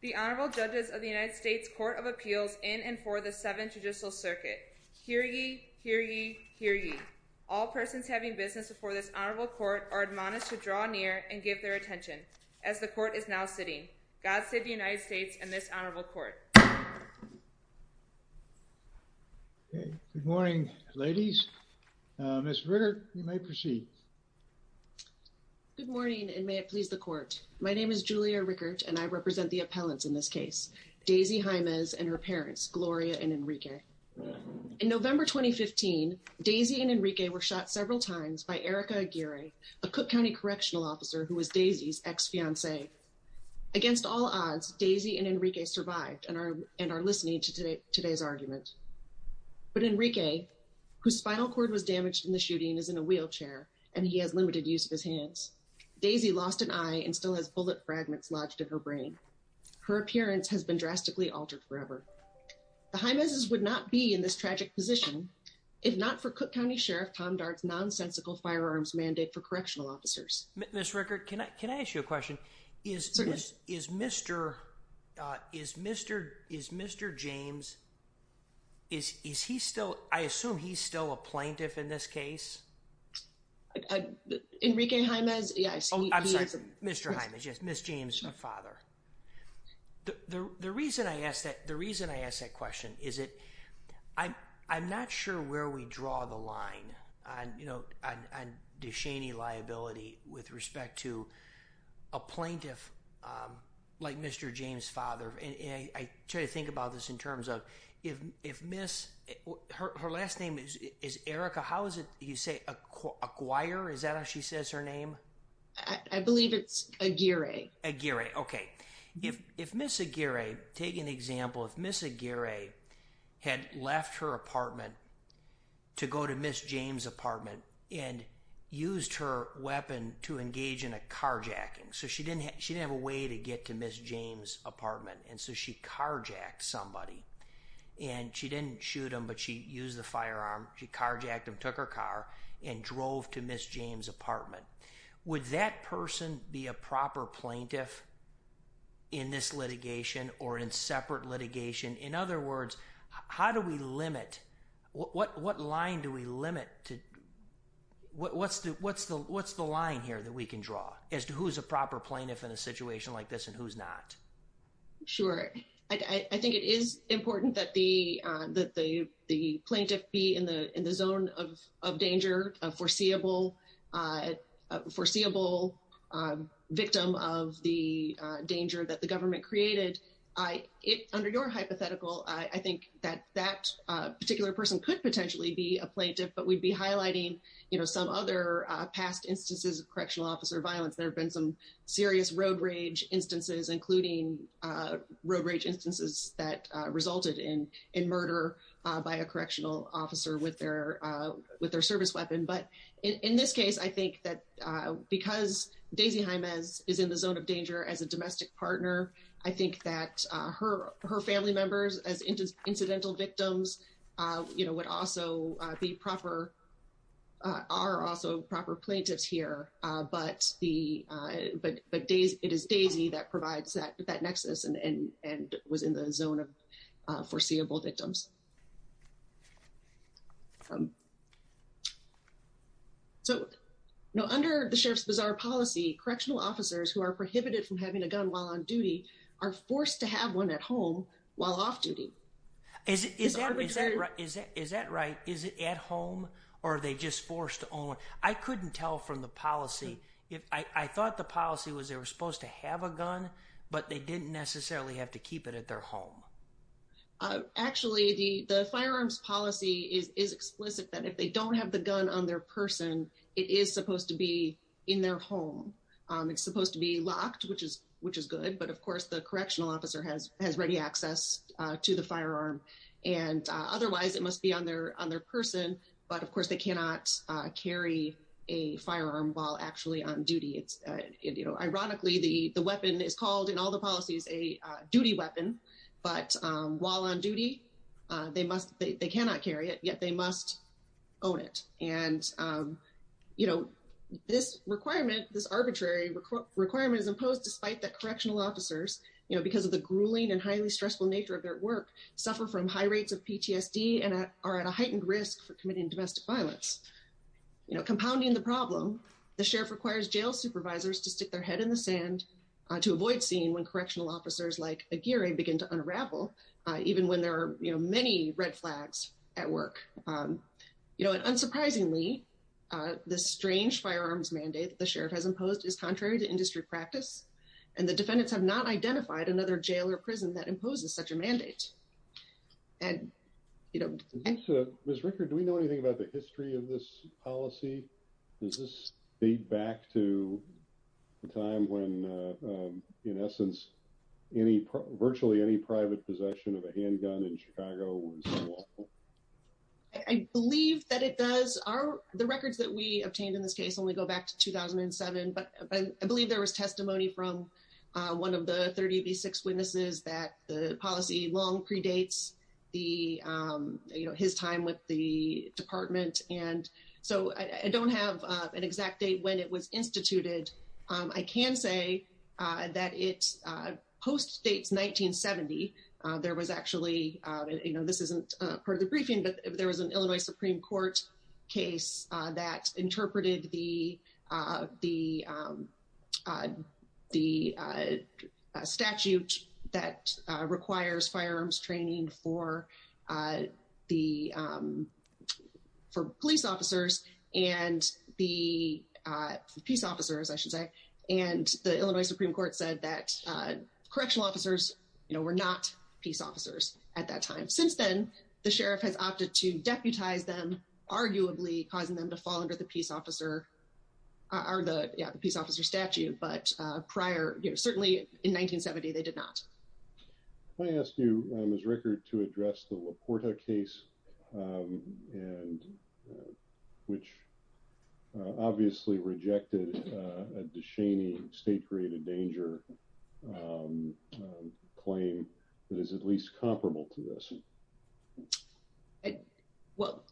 The Honorable Judges of the United States Court of Appeals in and for the Seventh Judicial Circuit. Hear ye, hear ye, hear ye. All persons having business before this Honorable Court are admonished to draw near and give their attention, as the Court is now sitting. God save the United States and this Honorable Court. Good morning, ladies. Ms. Rickert, you may proceed. Good morning, and may it please the Court. My name is Julia Rickert, and I represent the appellants in this case, Daisy Jaimes and her parents, Gloria and Enrique. In November 2015, Daisy and Enrique were shot several times by Erica Aguirre, a Cook County Correctional Officer who was Daisy's ex-fiancee. Against all odds, Daisy and Enrique survived and are listening to today's argument. But Enrique, whose spinal cord was damaged in the shooting, is in a wheelchair, and he has limited use of his hands. Daisy lost an eye and still has bullet fragments lodged in her brain. Her appearance has been drastically altered forever. The Jaimeses would not be in this tragic position if not for Cook County Sheriff Tom Dart's nonsensical firearms mandate for correctional officers. Ms. Rickert, can I ask you a question? Is Mr. Jaimes, is he still, I assume he's still a plaintiff in this case? Enrique Jaimes? Yes. Oh, I'm sorry, Mr. Jaimes, yes, Ms. Jaimes, my father. The reason I ask that question is that I'm not sure where we draw the line on Duchenne liability with respect to a plaintiff like Mr. Jaimes' father, and I try to think about this in terms of if Ms., her last name is Erica, how is it you say, Aguirre, is that how she says her name? I believe it's Aguirre. Aguirre, okay. If Ms. Aguirre, take an example, if Ms. Aguirre had left her apartment to go to Ms. Jaimes' apartment and used her weapon to engage in a carjacking, so she didn't have a way to get to Ms. Jaimes' apartment, and so she carjacked somebody, and she didn't shoot him, but she used the firearm, she carjacked him, took her car, and drove to Ms. Jaimes' apartment, would that person be a proper plaintiff in this litigation or in separate litigation? In other words, how do we limit, what line do we limit to, what's the line here that we can draw as to who's a proper plaintiff in a situation like this and who's not? Sure. I think it is important that the plaintiff be in the zone of danger, a foreseeable victim of the danger that the government created. Under your hypothetical, I think that that particular person could potentially be a plaintiff, but we'd be highlighting some other past instances of correctional officer violence. There have been some serious road rage instances, including road rage instances that resulted in murder by a correctional officer with their service weapon. In this case, I think that because Daisy Jaimes is in the zone of danger as a domestic partner, I think that her family members as incidental victims would also be proper, are also proper plaintiffs here, but it is Daisy that provides that nexus and was in the zone of foreseeable victims. So, under the Sheriff's Bazaar policy, correctional officers who are prohibited from having a gun while on duty are forced to have one at home while off duty. Is that right? Is it at home or are they just forced to own one? I couldn't tell from the policy. I thought the policy was they were supposed to have a gun, but they didn't necessarily have to keep it at their home. Actually, the firearms policy is explicit that if they don't have the gun on their person, it is supposed to be in their home. It's supposed to be locked, which is good, but of course, the correctional officer has ready access to the firearm and otherwise, it must be on their person, but of course, ironically, the weapon is called in all the policies a duty weapon, but while on duty, they cannot carry it, yet they must own it. This requirement, this arbitrary requirement is imposed despite the correctional officers because of the grueling and highly stressful nature of their work, suffer from high rates of PTSD and are at a heightened risk for committing domestic violence. Compounding the problem, the sheriff requires jail supervisors to stick their head in the sand to avoid seeing when correctional officers like Aguirre begin to unravel, even when there are many red flags at work. Unsurprisingly, the strange firearms mandate the sheriff has imposed is contrary to industry practice and the defendants have not identified another jail or prison that imposes such a mandate. And, you know. Ms. Rickard, do we know anything about the history of this policy? Does this date back to the time when, in essence, any, virtually any private possession of a handgun in Chicago was lawful? I believe that it does. The records that we obtained in this case only go back to 2007, but I believe there is testimony from one of the 30 of these six witnesses that the policy long predates the, you know, his time with the department. And so I don't have an exact date when it was instituted. I can say that it post-dates 1970. There was actually, you know, this isn't part of the briefing, but there was an Illinois the statute that requires firearms training for the police officers and the peace officers, I should say, and the Illinois Supreme Court said that correctional officers, you know, were not peace officers at that time. Since then, the sheriff has opted to deputize them, arguably causing them to fall under the peace officer, or the peace officer statute. But prior, you know, certainly in 1970, they did not. Can I ask you, Ms. Rickard, to address the LaPorta case, which obviously rejected a Duchenne state-created danger claim that is at least comparable to this? Well,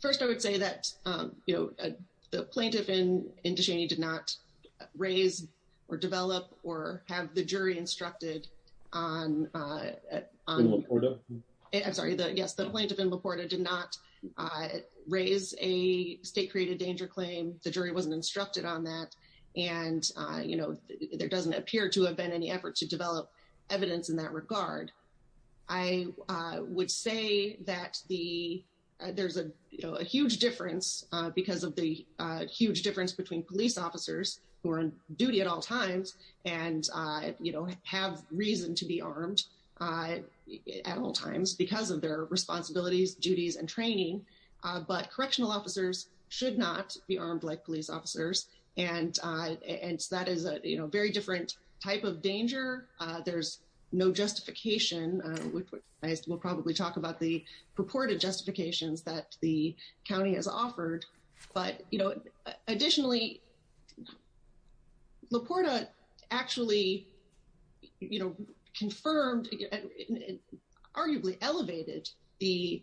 first, I would say that, you know, the plaintiff in Duchenne did not raise or develop or have the jury instructed on LaPorta. I'm sorry, yes, the plaintiff in LaPorta did not raise a state-created danger claim. The jury wasn't instructed on that. And, you know, there doesn't appear to have been any effort to develop evidence in that would say that there's a huge difference because of the huge difference between police officers who are on duty at all times and, you know, have reason to be armed at all times because of their responsibilities, duties, and training. But correctional officers should not be armed like police officers. There's no justification, which we'll probably talk about the purported justifications that the county has offered. But, you know, additionally, LaPorta actually, you know, confirmed and arguably elevated the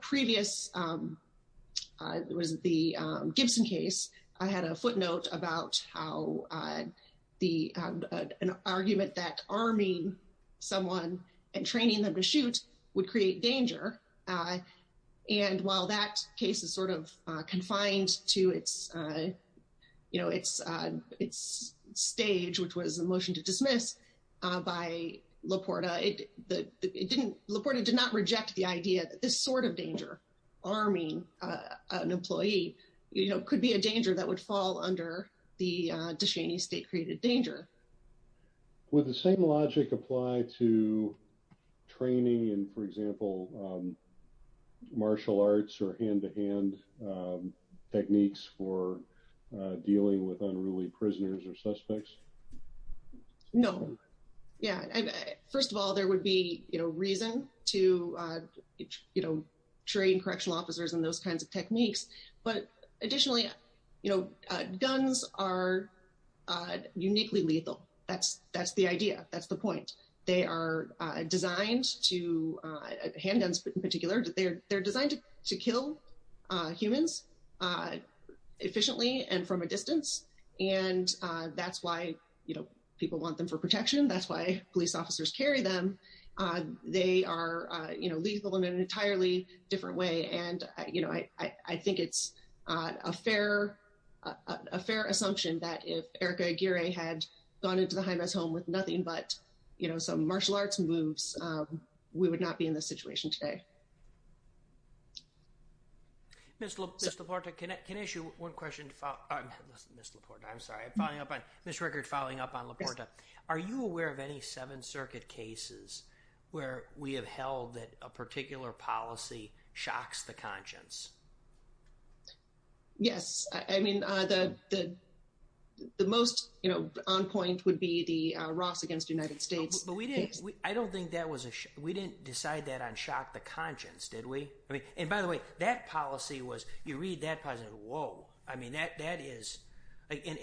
previous, it was the Gibson case. I had a footnote about how an argument that arming someone and training them to shoot would create danger. And while that case is sort of confined to its, you know, its stage, which was a motion to dismiss by LaPorta, LaPorta did not reject the idea that this sort of danger, arming an employee, you know, could be a danger that would fall under the Duchenne state created danger. Would the same logic apply to training and, for example, martial arts or hand-to-hand techniques for dealing with unruly prisoners or suspects? No, yeah. First of all, there would be, you know, reason to, you know, train correctional officers and those kinds of techniques. But additionally, you know, guns are uniquely lethal. That's the idea. That's the point. They are designed to, handguns in particular, they're designed to kill humans efficiently and from a distance. And that's why, you know, people want them for protection. That's why police officers carry them. They are, you know, lethal in an entirely different way. And, you know, I think it's a fair assumption that if Erika Aguirre had gone into the Jaime's home with nothing but, you know, some martial arts moves, we would not be in this situation today. Ms. LaPorta, can I ask you one question? Ms. LaPorta, I'm sorry. Following up on, Ms. Rueckert, following up on LaPorta. Are you aware of any Seventh Circuit cases where we have held that a particular policy shocks the conscience? Yes. I mean, the most, you know, on point would be the Ross against United States case. But we didn't, I don't think that was a, we didn't decide that on shock the conscience, did we? I mean, and by the way, that policy was, you read that positive, whoa. I mean, that is, and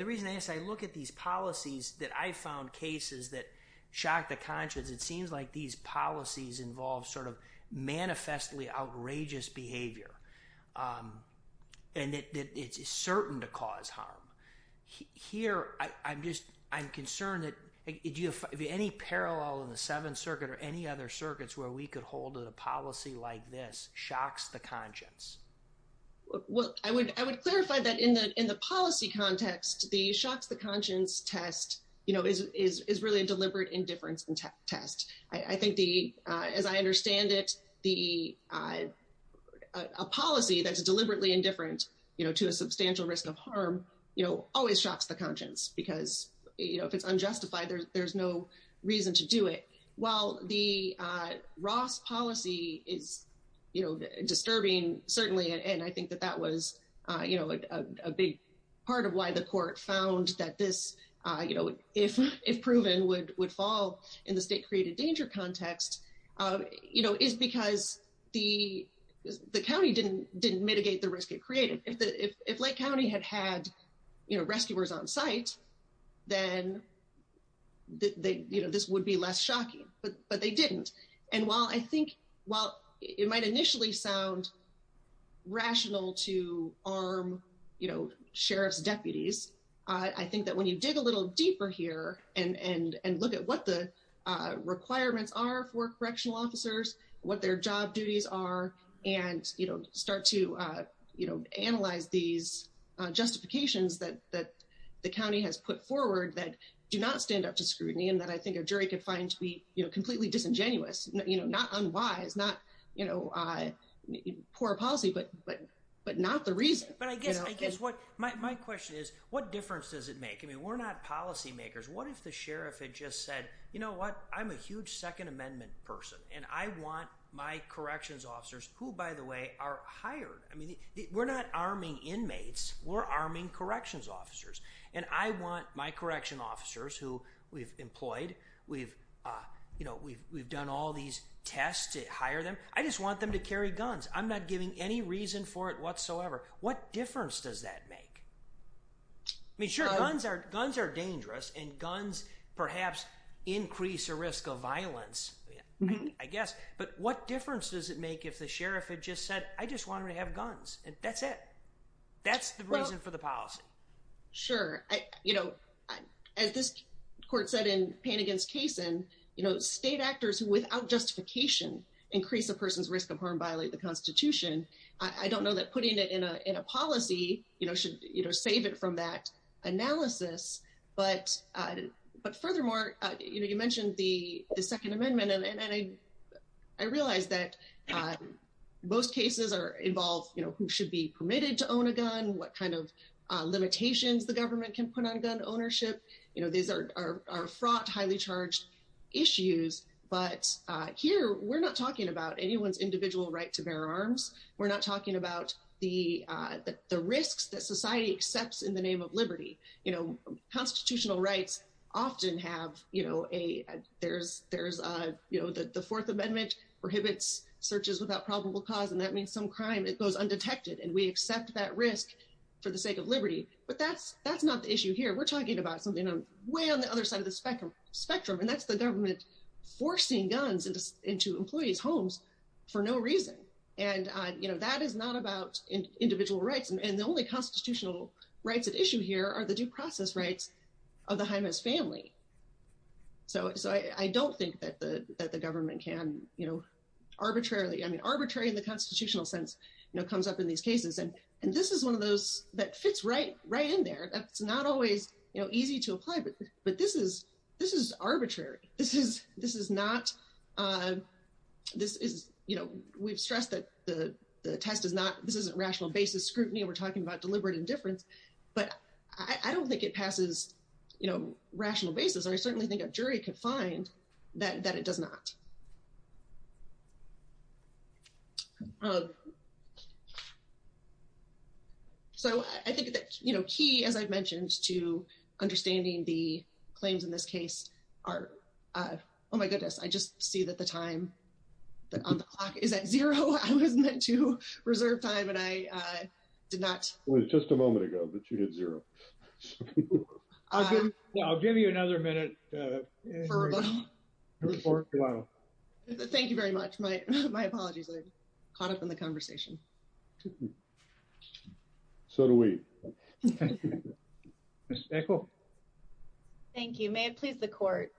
the reason I ask, I look at these policies that I found cases that shocked the conscience. It seems like these policies involve sort of manifestly outrageous behavior. And it's certain to cause harm. Here, I'm just, I'm concerned that, do you have any parallel in the Seventh Circuit or any other circuits where we could hold a policy like this shocks the conscience? Well, I would, I would clarify that in the, in the policy context, the shocks the conscience test, you know, is, is, is really a deliberate indifference test. I think the, as I understand it, the, a policy that's deliberately indifferent, you know, to a substantial risk of harm, you know, always shocks the conscience because, you know, if it's unjustified, there's no reason to do it. While the Ross policy is, you know, disturbing, certainly, and I think that that was, you know, a big part of why the court found that this, you know, if, if proven would, would fall in the state created danger context, you know, is because the, the county didn't, didn't mitigate the risk it created. If the, if, if Lake County had had, you know, rescuers on site, then they, you know, this would be less shocking, but, but they didn't. And while I think, well, it might initially sound rational to arm, you know, sheriff's deputies. I think that when you dig a little deeper here and, and, and look at what the requirements are for correctional officers, what their job duties are, and, you know, start to, you know, analyze these justifications that, that the county has put forward that do not stand up to scrutiny. And that I think a jury could find to be completely disingenuous, you know, not unwise, not, you know, poor policy, but, but, but not the reason. But I guess, I guess what my, my question is, what difference does it make? I mean, we're not policy makers. What if the sheriff had just said, you know what, I'm a huge second amendment person and I want my corrections officers who by the way are hired, I mean, we're not arming inmates, we're arming corrections officers. And I want my correction officers who we've employed, we've, you know, we've, we've done all these tests to hire them. I just want them to carry guns. I'm not giving any reason for it whatsoever. What difference does that make? I mean, sure, guns are, guns are dangerous and guns perhaps increase the risk of violence, I guess. But what difference does it make if the sheriff had just said, I just want him to have guns and that's it. That's the reason for the policy. Sure. I, you know, as this court said in Payne against Kaysen, you know, state actors who without justification increase a person's risk of harm violate the constitution. I don't know that putting it in a, in a policy, you know, should, you know, save it from that analysis. But, but furthermore, you know, you mentioned the second amendment and, and I, I realized that most cases are involved, you know, who should be permitted to own a gun, what kind of limitations the government can put on gun ownership. You know, these are, are, are fraught, highly charged issues, but here we're not talking about anyone's individual right to bear arms. We're not talking about the, the risks that society accepts in the name of liberty. You know, constitutional rights often have, you know, a, there's, there's a, you know, the fourth amendment prohibits searches without probable cause, and that means some crime goes undetected, and we accept that risk for the sake of liberty, but that's, that's not the issue here. We're talking about something way on the other side of the spectrum, spectrum, and that's the government forcing guns into, into employees' homes for no reason. And you know, that is not about individual rights, and the only constitutional rights at issue here are the due process rights of the Jaime's family. So I don't think that the, that the government can, you know, arbitrarily, I mean, arbitrary in the constitutional sense, you know, comes up in these cases, and, and this is one of those that fits right, right in there. That's not always, you know, easy to apply, but, but this is, this is arbitrary. This is, this is not, this is, you know, we've stressed that the, the test is not, this isn't rational basis scrutiny, and we're talking about deliberate indifference, but I, I don't think it passes, you know, rational basis, and I certainly think a jury could find that, that it does not. So I think that, you know, key, as I've mentioned, to understanding the claims in this case are, oh my goodness, I just see that the time on the clock is at zero. I was meant to reserve time, and I did not. It was just a moment ago, but you hit zero. I'll give you another minute. For a while. Thank you very much. My, my apologies. I caught up in the conversation. So do we. Thank you. May it please the court.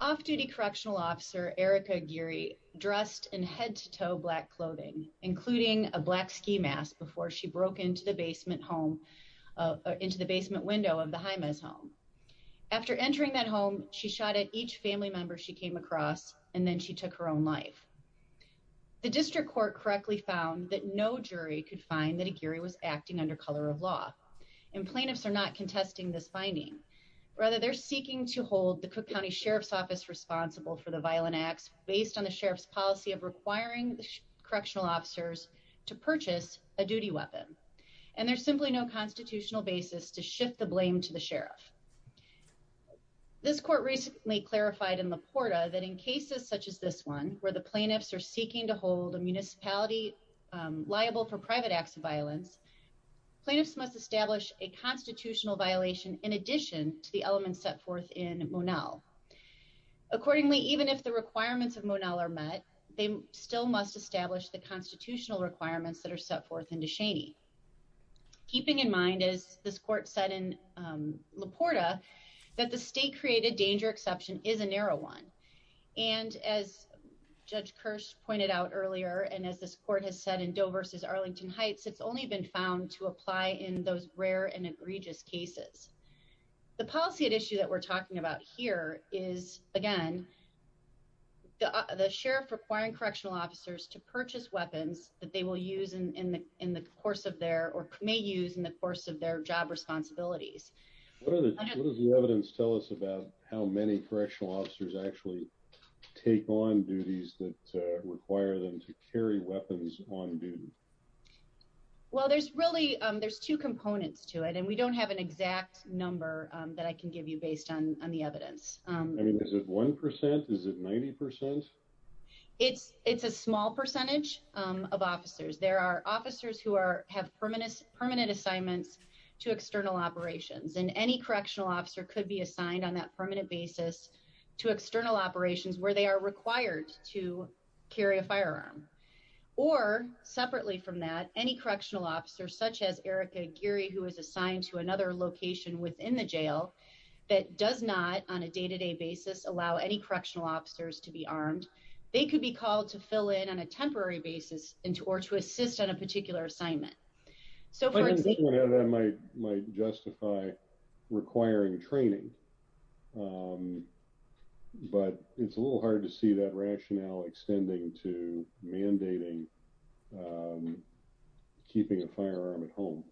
Off duty correctional officer, Erica Geary, dressed in head to toe black clothing, including a black ski mask before she broke into the basement home, into the basement window of the Jaime's home. After entering that home, she shot at each family member she came across, and then she took her own life. The district court correctly found that no jury could find that a Gary was acting under color of law and plaintiffs are not contesting this finding. Rather, they're seeking to hold the Cook County Sheriff's Office responsible for the violent acts based on the sheriff's policy of requiring the correctional officers to purchase a duty weapon. And there's simply no constitutional basis to shift the blame to the sheriff. This court recently clarified in the Porta that in cases such as this one, where the plaintiffs are seeking to hold a municipality liable for private acts of violence, plaintiffs must establish a constitutional violation in addition to the elements set forth in Monell. Accordingly, even if the requirements of Monell are met, they still must establish the constitutional requirements that are set forth into Cheney. Keeping in mind, as this court said in Laporta, that the state created danger exception is a narrow one. And as Judge Kirsch pointed out earlier, and as this court has said in Doe versus Arlington Heights, it's only been found to apply in those rare and egregious cases. The policy at issue that we're talking about here is, again, the sheriff requiring correctional officers to purchase weapons that they will use in the in the course of their or may use in the course of their job responsibilities. What does the evidence tell us about how many correctional officers actually take on duties that require them to carry weapons on duty? Well, there's really there's two components to it, and we don't have an exact number that I can give you based on the evidence. I mean, is it 1 percent? Is it 90 percent? It's it's a small percentage of officers. There are officers who are have permanent permanent assignments to external operations and any correctional officer could be assigned on that permanent basis to external operations where they are required to carry a firearm or separately from that, any correctional officers such as Erica Geary, who is assigned to another location within the jail that does not on a day to day basis allow any correctional officers to be armed. They could be called to fill in on a temporary basis into or to assist on a particular assignment. So that might might justify requiring training, but it's a little hard to see that rationale extending to mandating keeping a firearm at home.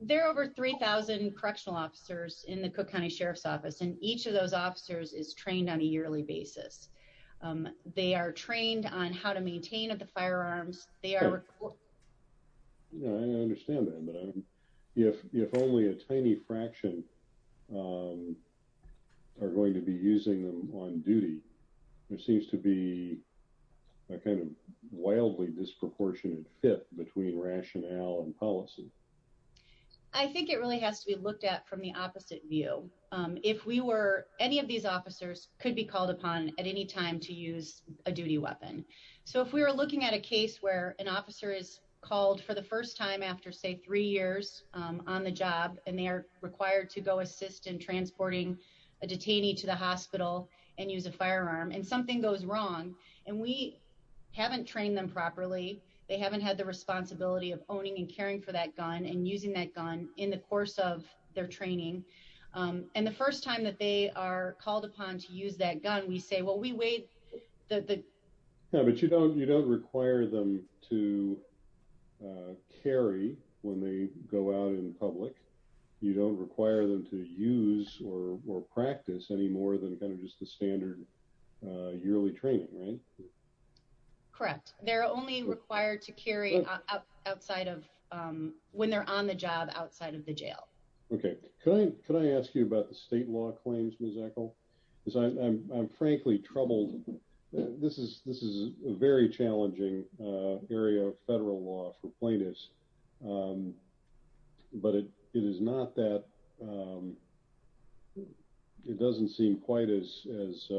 There are over 3000 correctional officers in the Cook County Sheriff's Office, and each of those officers is trained on a yearly basis. They are trained on how to maintain the firearms. They are. You know, I understand that, but if if only a tiny fraction are going to be using them on duty, there seems to be a kind of wildly disproportionate fit between rationale and policy. I think it really has to be looked at from the opposite view. If we were any of these officers could be called upon at any time to use a duty weapon. So if we were looking at a case where an officer is called for the first time after, say, three years on the job and they are required to go assist in transporting a detainee to the hospital and use a firearm and something goes wrong and we haven't trained them properly, they haven't had the responsibility of owning and caring for that gun and using that gun in the course of their training. And the first time that they are called upon to use that gun, we say, well, we wait. Yeah, but you don't you don't require them to carry when they go out in public. You don't require them to use or practice any more than kind of just the standard yearly training, right? Correct. They're only required to carry outside of when they're on the job outside of the jail. OK, can I ask you about the state law claims, Ms. Echol, because I'm frankly troubled. This is this is a very challenging area of federal law for plaintiffs. But it is not that. It doesn't seem quite as as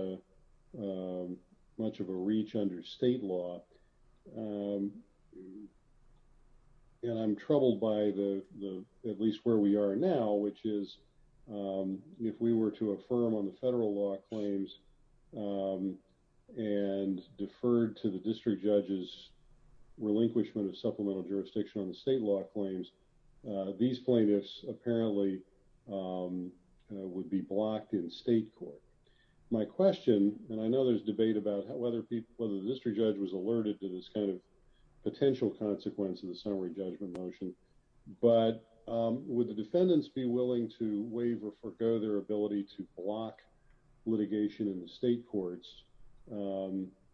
much of a reach under state law. And I'm troubled by the the at least where we are now, which is if we were to affirm on the federal law claims and deferred to the district judges relinquishment of supplemental jurisdiction on the state law claims, these plaintiffs apparently would be blocked in state court. My question and I know there's debate about whether people whether the district judge was alerted to this kind of potential consequence of the summary judgment motion. But would the defendants be willing to waive or forgo their ability to block litigation in the state courts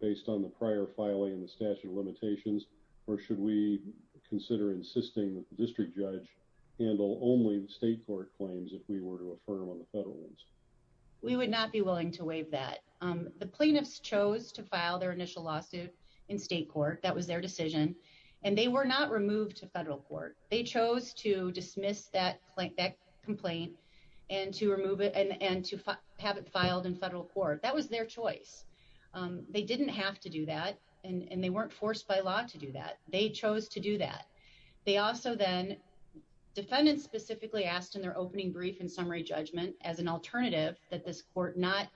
based on the prior filing in the statute of limitations? Or should we consider insisting that the district judge handle only the state court claims if we were to affirm on the federal ones? We would not be willing to waive that. The plaintiffs chose to file their initial lawsuit in state court. That was their decision. And they were not removed to federal court. They chose to dismiss that complaint and to remove it and to have it filed in federal court. That was their choice. They didn't have to do that and they weren't forced by law to do that. They chose to do that. They also then defendants specifically asked in their opening brief and summary judgment as an alternative that this court not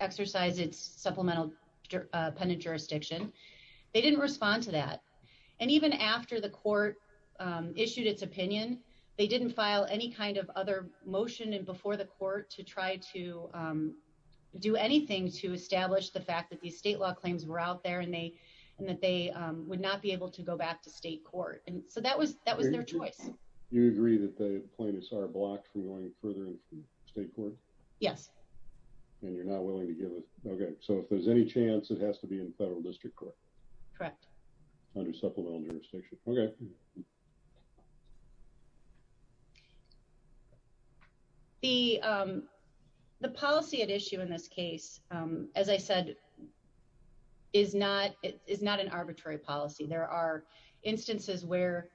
exercise its supplemental pendent jurisdiction. They didn't respond to that. And even after the court issued its opinion, they didn't file any kind of other motion and before the court to try to do anything to establish the fact that these state law claims were out there and that they would not be able to go back to state court. And so that was that was their choice. You agree that the plaintiffs are blocked from going further into state court? Yes. And you're not willing to give it? Okay. So if there's any chance it has to be in federal district court? Correct. Under supplemental jurisdiction. Okay. The the policy at issue in this case, as I said, is not it is not an arbitrary policy. There are instances where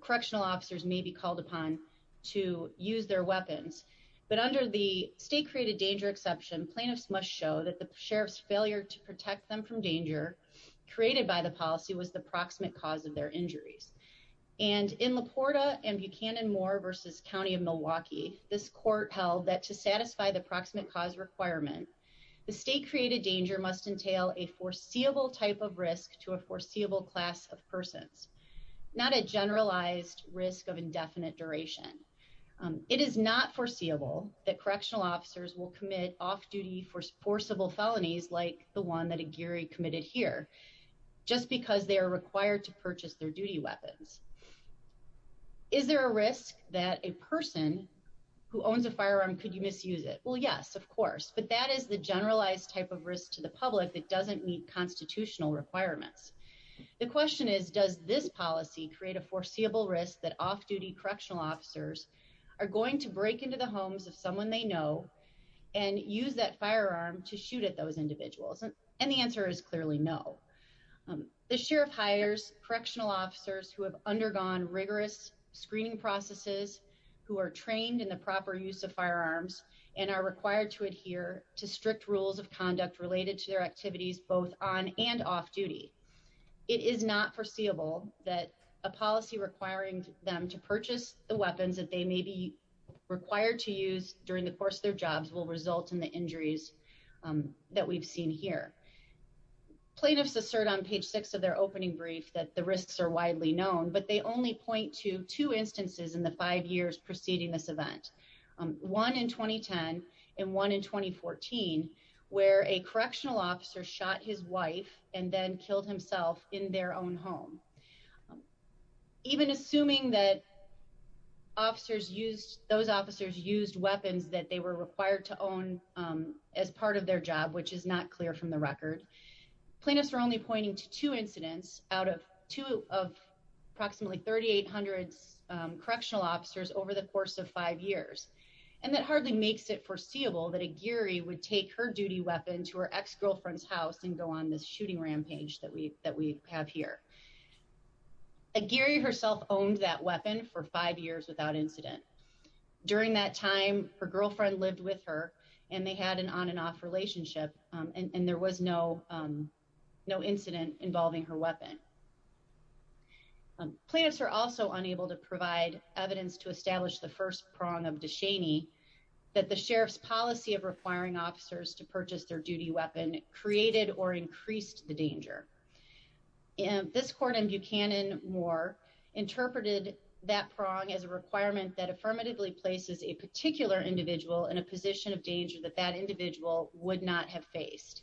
correctional officers may be called upon to use their weapons. But under the state created danger exception, plaintiffs must show that the sheriff's failure to protect them from danger created by the policy was the proximate cause of their injuries. And in Laporta and Buchanan Moore versus County of Milwaukee, this court held that to satisfy the proximate cause requirement, the state created danger must entail a foreseeable type of risk to a foreseeable class of persons, not a generalized risk of indefinite duration. It is not foreseeable that correctional officers will commit off duty for forcible felonies like the one that a Gary committed here, just because they are required to purchase their duty weapons. Is there a risk that a person who owns a firearm? Could you misuse it? Well, yes, of course. But that is the generalized type of risk to the public that doesn't meet constitutional requirements. The question is, does this policy create a foreseeable risk that off duty correctional officers are going to break into the homes of someone they know and use that And the answer is clearly no. The sheriff hires correctional officers who have undergone rigorous screening processes who are trained in the proper use of firearms and are required to adhere to strict rules of conduct related to their activities, both on and off duty. It is not foreseeable that a policy requiring them to purchase the weapons that they may be required to use during the course of their jobs will result in the injuries that we've seen here. Plaintiffs assert on page six of their opening brief that the risks are widely known, but they only point to two instances in the five years preceding this event, one in 2010 and one in 2014, where a correctional officer shot his wife and then killed himself in their own home. Even assuming that officers used those officers used weapons that they were required to use during their job, which is not clear from the record, plaintiffs are only pointing to two incidents out of two of approximately 3800 correctional officers over the course of five years. And that hardly makes it foreseeable that a Gary would take her duty weapon to her ex-girlfriend's house and go on this shooting rampage that we that we have here. A Gary herself owned that weapon for five years without incident. During that time, her girlfriend lived with her and they had an on and off relationship, and there was no no incident involving her weapon. Plaintiffs are also unable to provide evidence to establish the first prong of Deshaney that the sheriff's policy of requiring officers to purchase their duty weapon created or increased the danger. And this court in Buchanan Moore interpreted that prong as a requirement that affirmatively places a particular individual in a position of danger that that individual would not have faced.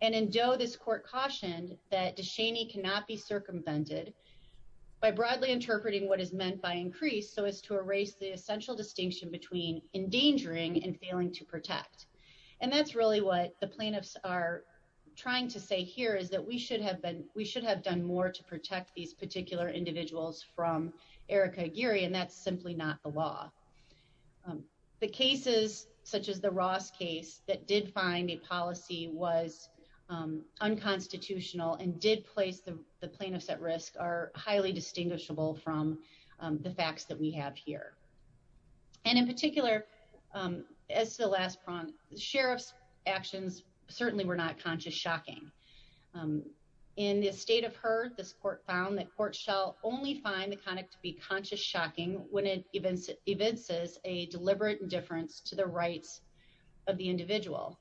And in Doe, this court cautioned that Deshaney cannot be circumvented by broadly interpreting what is meant by increase so as to erase the essential distinction between endangering and failing to protect. And that's really what the plaintiffs are trying to say here is that we should have been we should have done more to protect these particular individuals from Erica Gary, and that's simply not the law. The cases such as the Ross case that did find a policy was unconstitutional and did place the plaintiffs at risk are highly distinguishable from the facts that we have here. And in particular, as the last prompt, the sheriff's actions certainly were not conscious. Shocking in the state of her. This court found that court shall only find the conduct to be conscious. Shocking when it even if it says a deliberate indifference to the rights of the individual.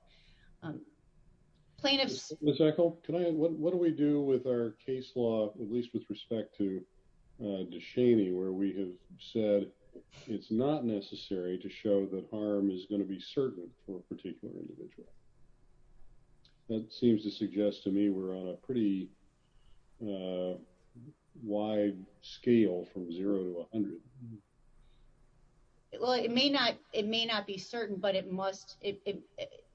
Plaintiffs, what do we do with our case law, at least with respect to Deshaney, where we have said it's not necessary to show that harm is going to be certain for a particular individual? That seems to suggest to me we're on a pretty wide scale from zero to 100. Well, it may not it may not be certain, but it must it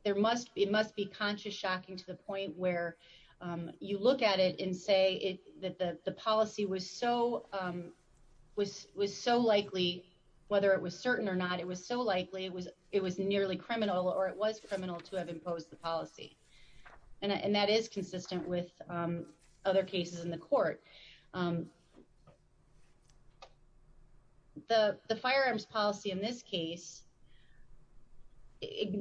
there must be it must be conscious. It's shocking to the point where you look at it and say that the policy was so was was so likely, whether it was certain or not, it was so likely it was it was nearly criminal or it was criminal to have imposed the policy. And that is consistent with other cases in the court. The firearms policy in this case.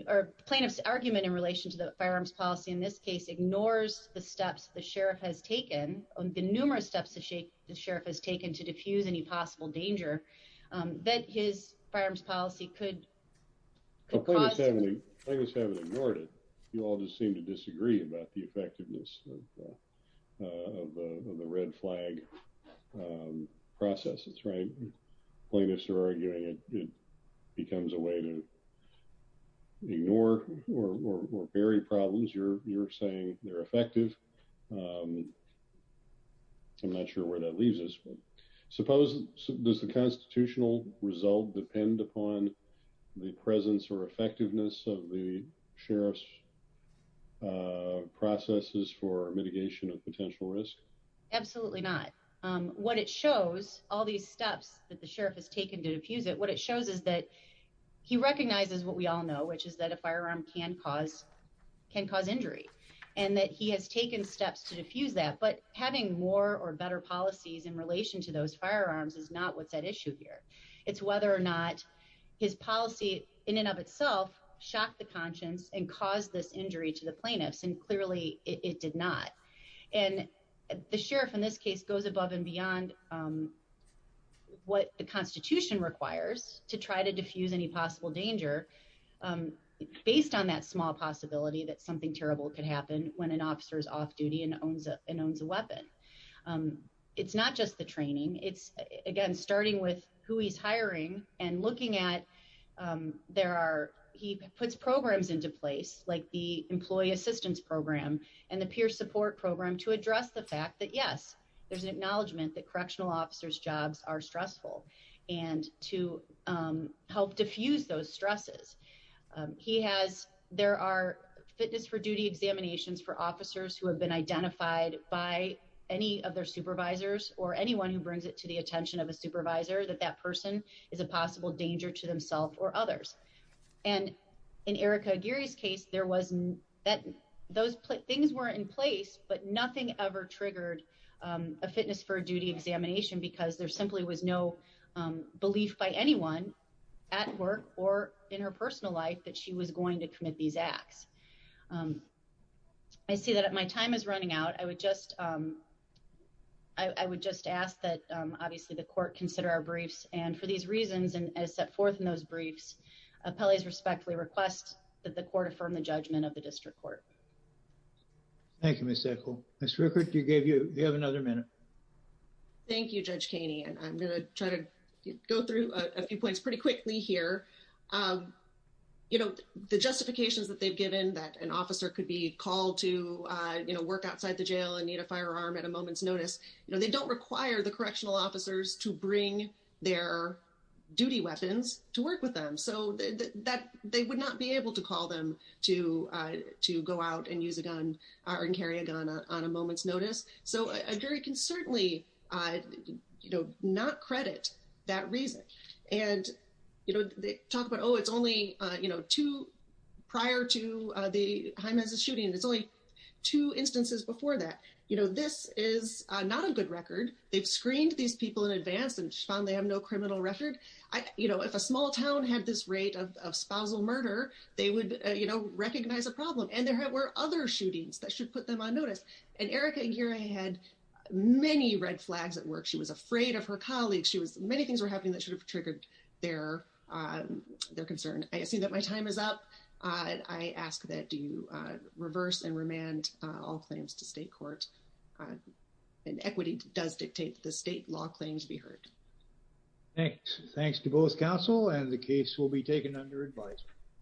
Or plaintiff's argument in relation to the firearms policy in this case ignores the steps the sheriff has taken on the numerous steps to shake the sheriff has taken to defuse any possible danger that his firearms policy could cause. I was having ignored it. You all just seem to disagree about the effectiveness of the red flag. Processes, right? Plaintiffs are arguing it becomes a way to. Ignore or vary problems you're you're saying they're effective. I'm not sure where that leaves us, but suppose there's a constitutional result depend upon the presence or effectiveness of the sheriff's. Processes for mitigation of potential risk. Absolutely not what it shows all these steps that the sheriff has taken to defuse it. What it shows is that he recognizes what we all know, which is that a firearm can cause can cause injury and that he has taken steps to defuse that, but having more or better policies in relation to those firearms is not what's at issue here. It's whether or not his policy in and of itself shocked the conscience and caused this injury to the plaintiffs, and clearly it did not. And the sheriff in this case goes above and beyond. What the Constitution requires to try to defuse any possible danger. Based on that small possibility that something terrible could happen when an officer is off duty and owns and owns a weapon. It's not just the training. It's again, starting with who he's hiring and looking at there are he puts programs into place like the employee assistance program and the peer support program to address the fact that yes, there's an acknowledgement that correctional officers jobs are stressful and to help defuse those stresses. He has, there are fitness for duty examinations for officers who have been identified by any of their supervisors or anyone who brings it to the attention of a supervisor that that person is a possible danger to themselves or others. And in Erica Gary's case there wasn't that those things were in place, but nothing ever triggered a fitness for duty examination because there simply was no belief by anyone at work or in her personal life that she was going to commit these acts. I see that my time is running out, I would just. I would just ask that obviously the court consider our briefs and for these reasons and as set forth in those briefs, appellees respectfully request that the court affirm the judgment of the district court. Thank you, Ms. Echol. Ms. Rueckert, you gave you, you have another minute. Thank you, Judge Kaney. And I'm going to try to go through a few points pretty quickly here. You know, the justifications that they've given that an officer could be called to, you know, work outside the jail and need a firearm at a moment's notice, you know, don't require the correctional officers to bring their duty weapons to work with them. So that they would not be able to call them to, to go out and use a gun or carry a gun on a moment's notice. So a jury can certainly, you know, not credit that reason. And, you know, they talk about, oh, it's only, you know, two prior to the Jaime's shooting. It's only two instances before that. You know, this is not a good record. They've screened these people in advance and found they have no criminal record. I, you know, if a small town had this rate of spousal murder, they would, you know, recognize a problem. And there were other shootings that should put them on notice. And Erica Aguirre had many red flags at work. She was afraid of her colleagues. She was, many things were happening that should have triggered their, their concern. I assume that my time is up. I ask that you reverse and remand all claims to state court. And equity does dictate that the state law claims be heard. Thanks. Thanks to both counsel. And the case will be taken under advisory.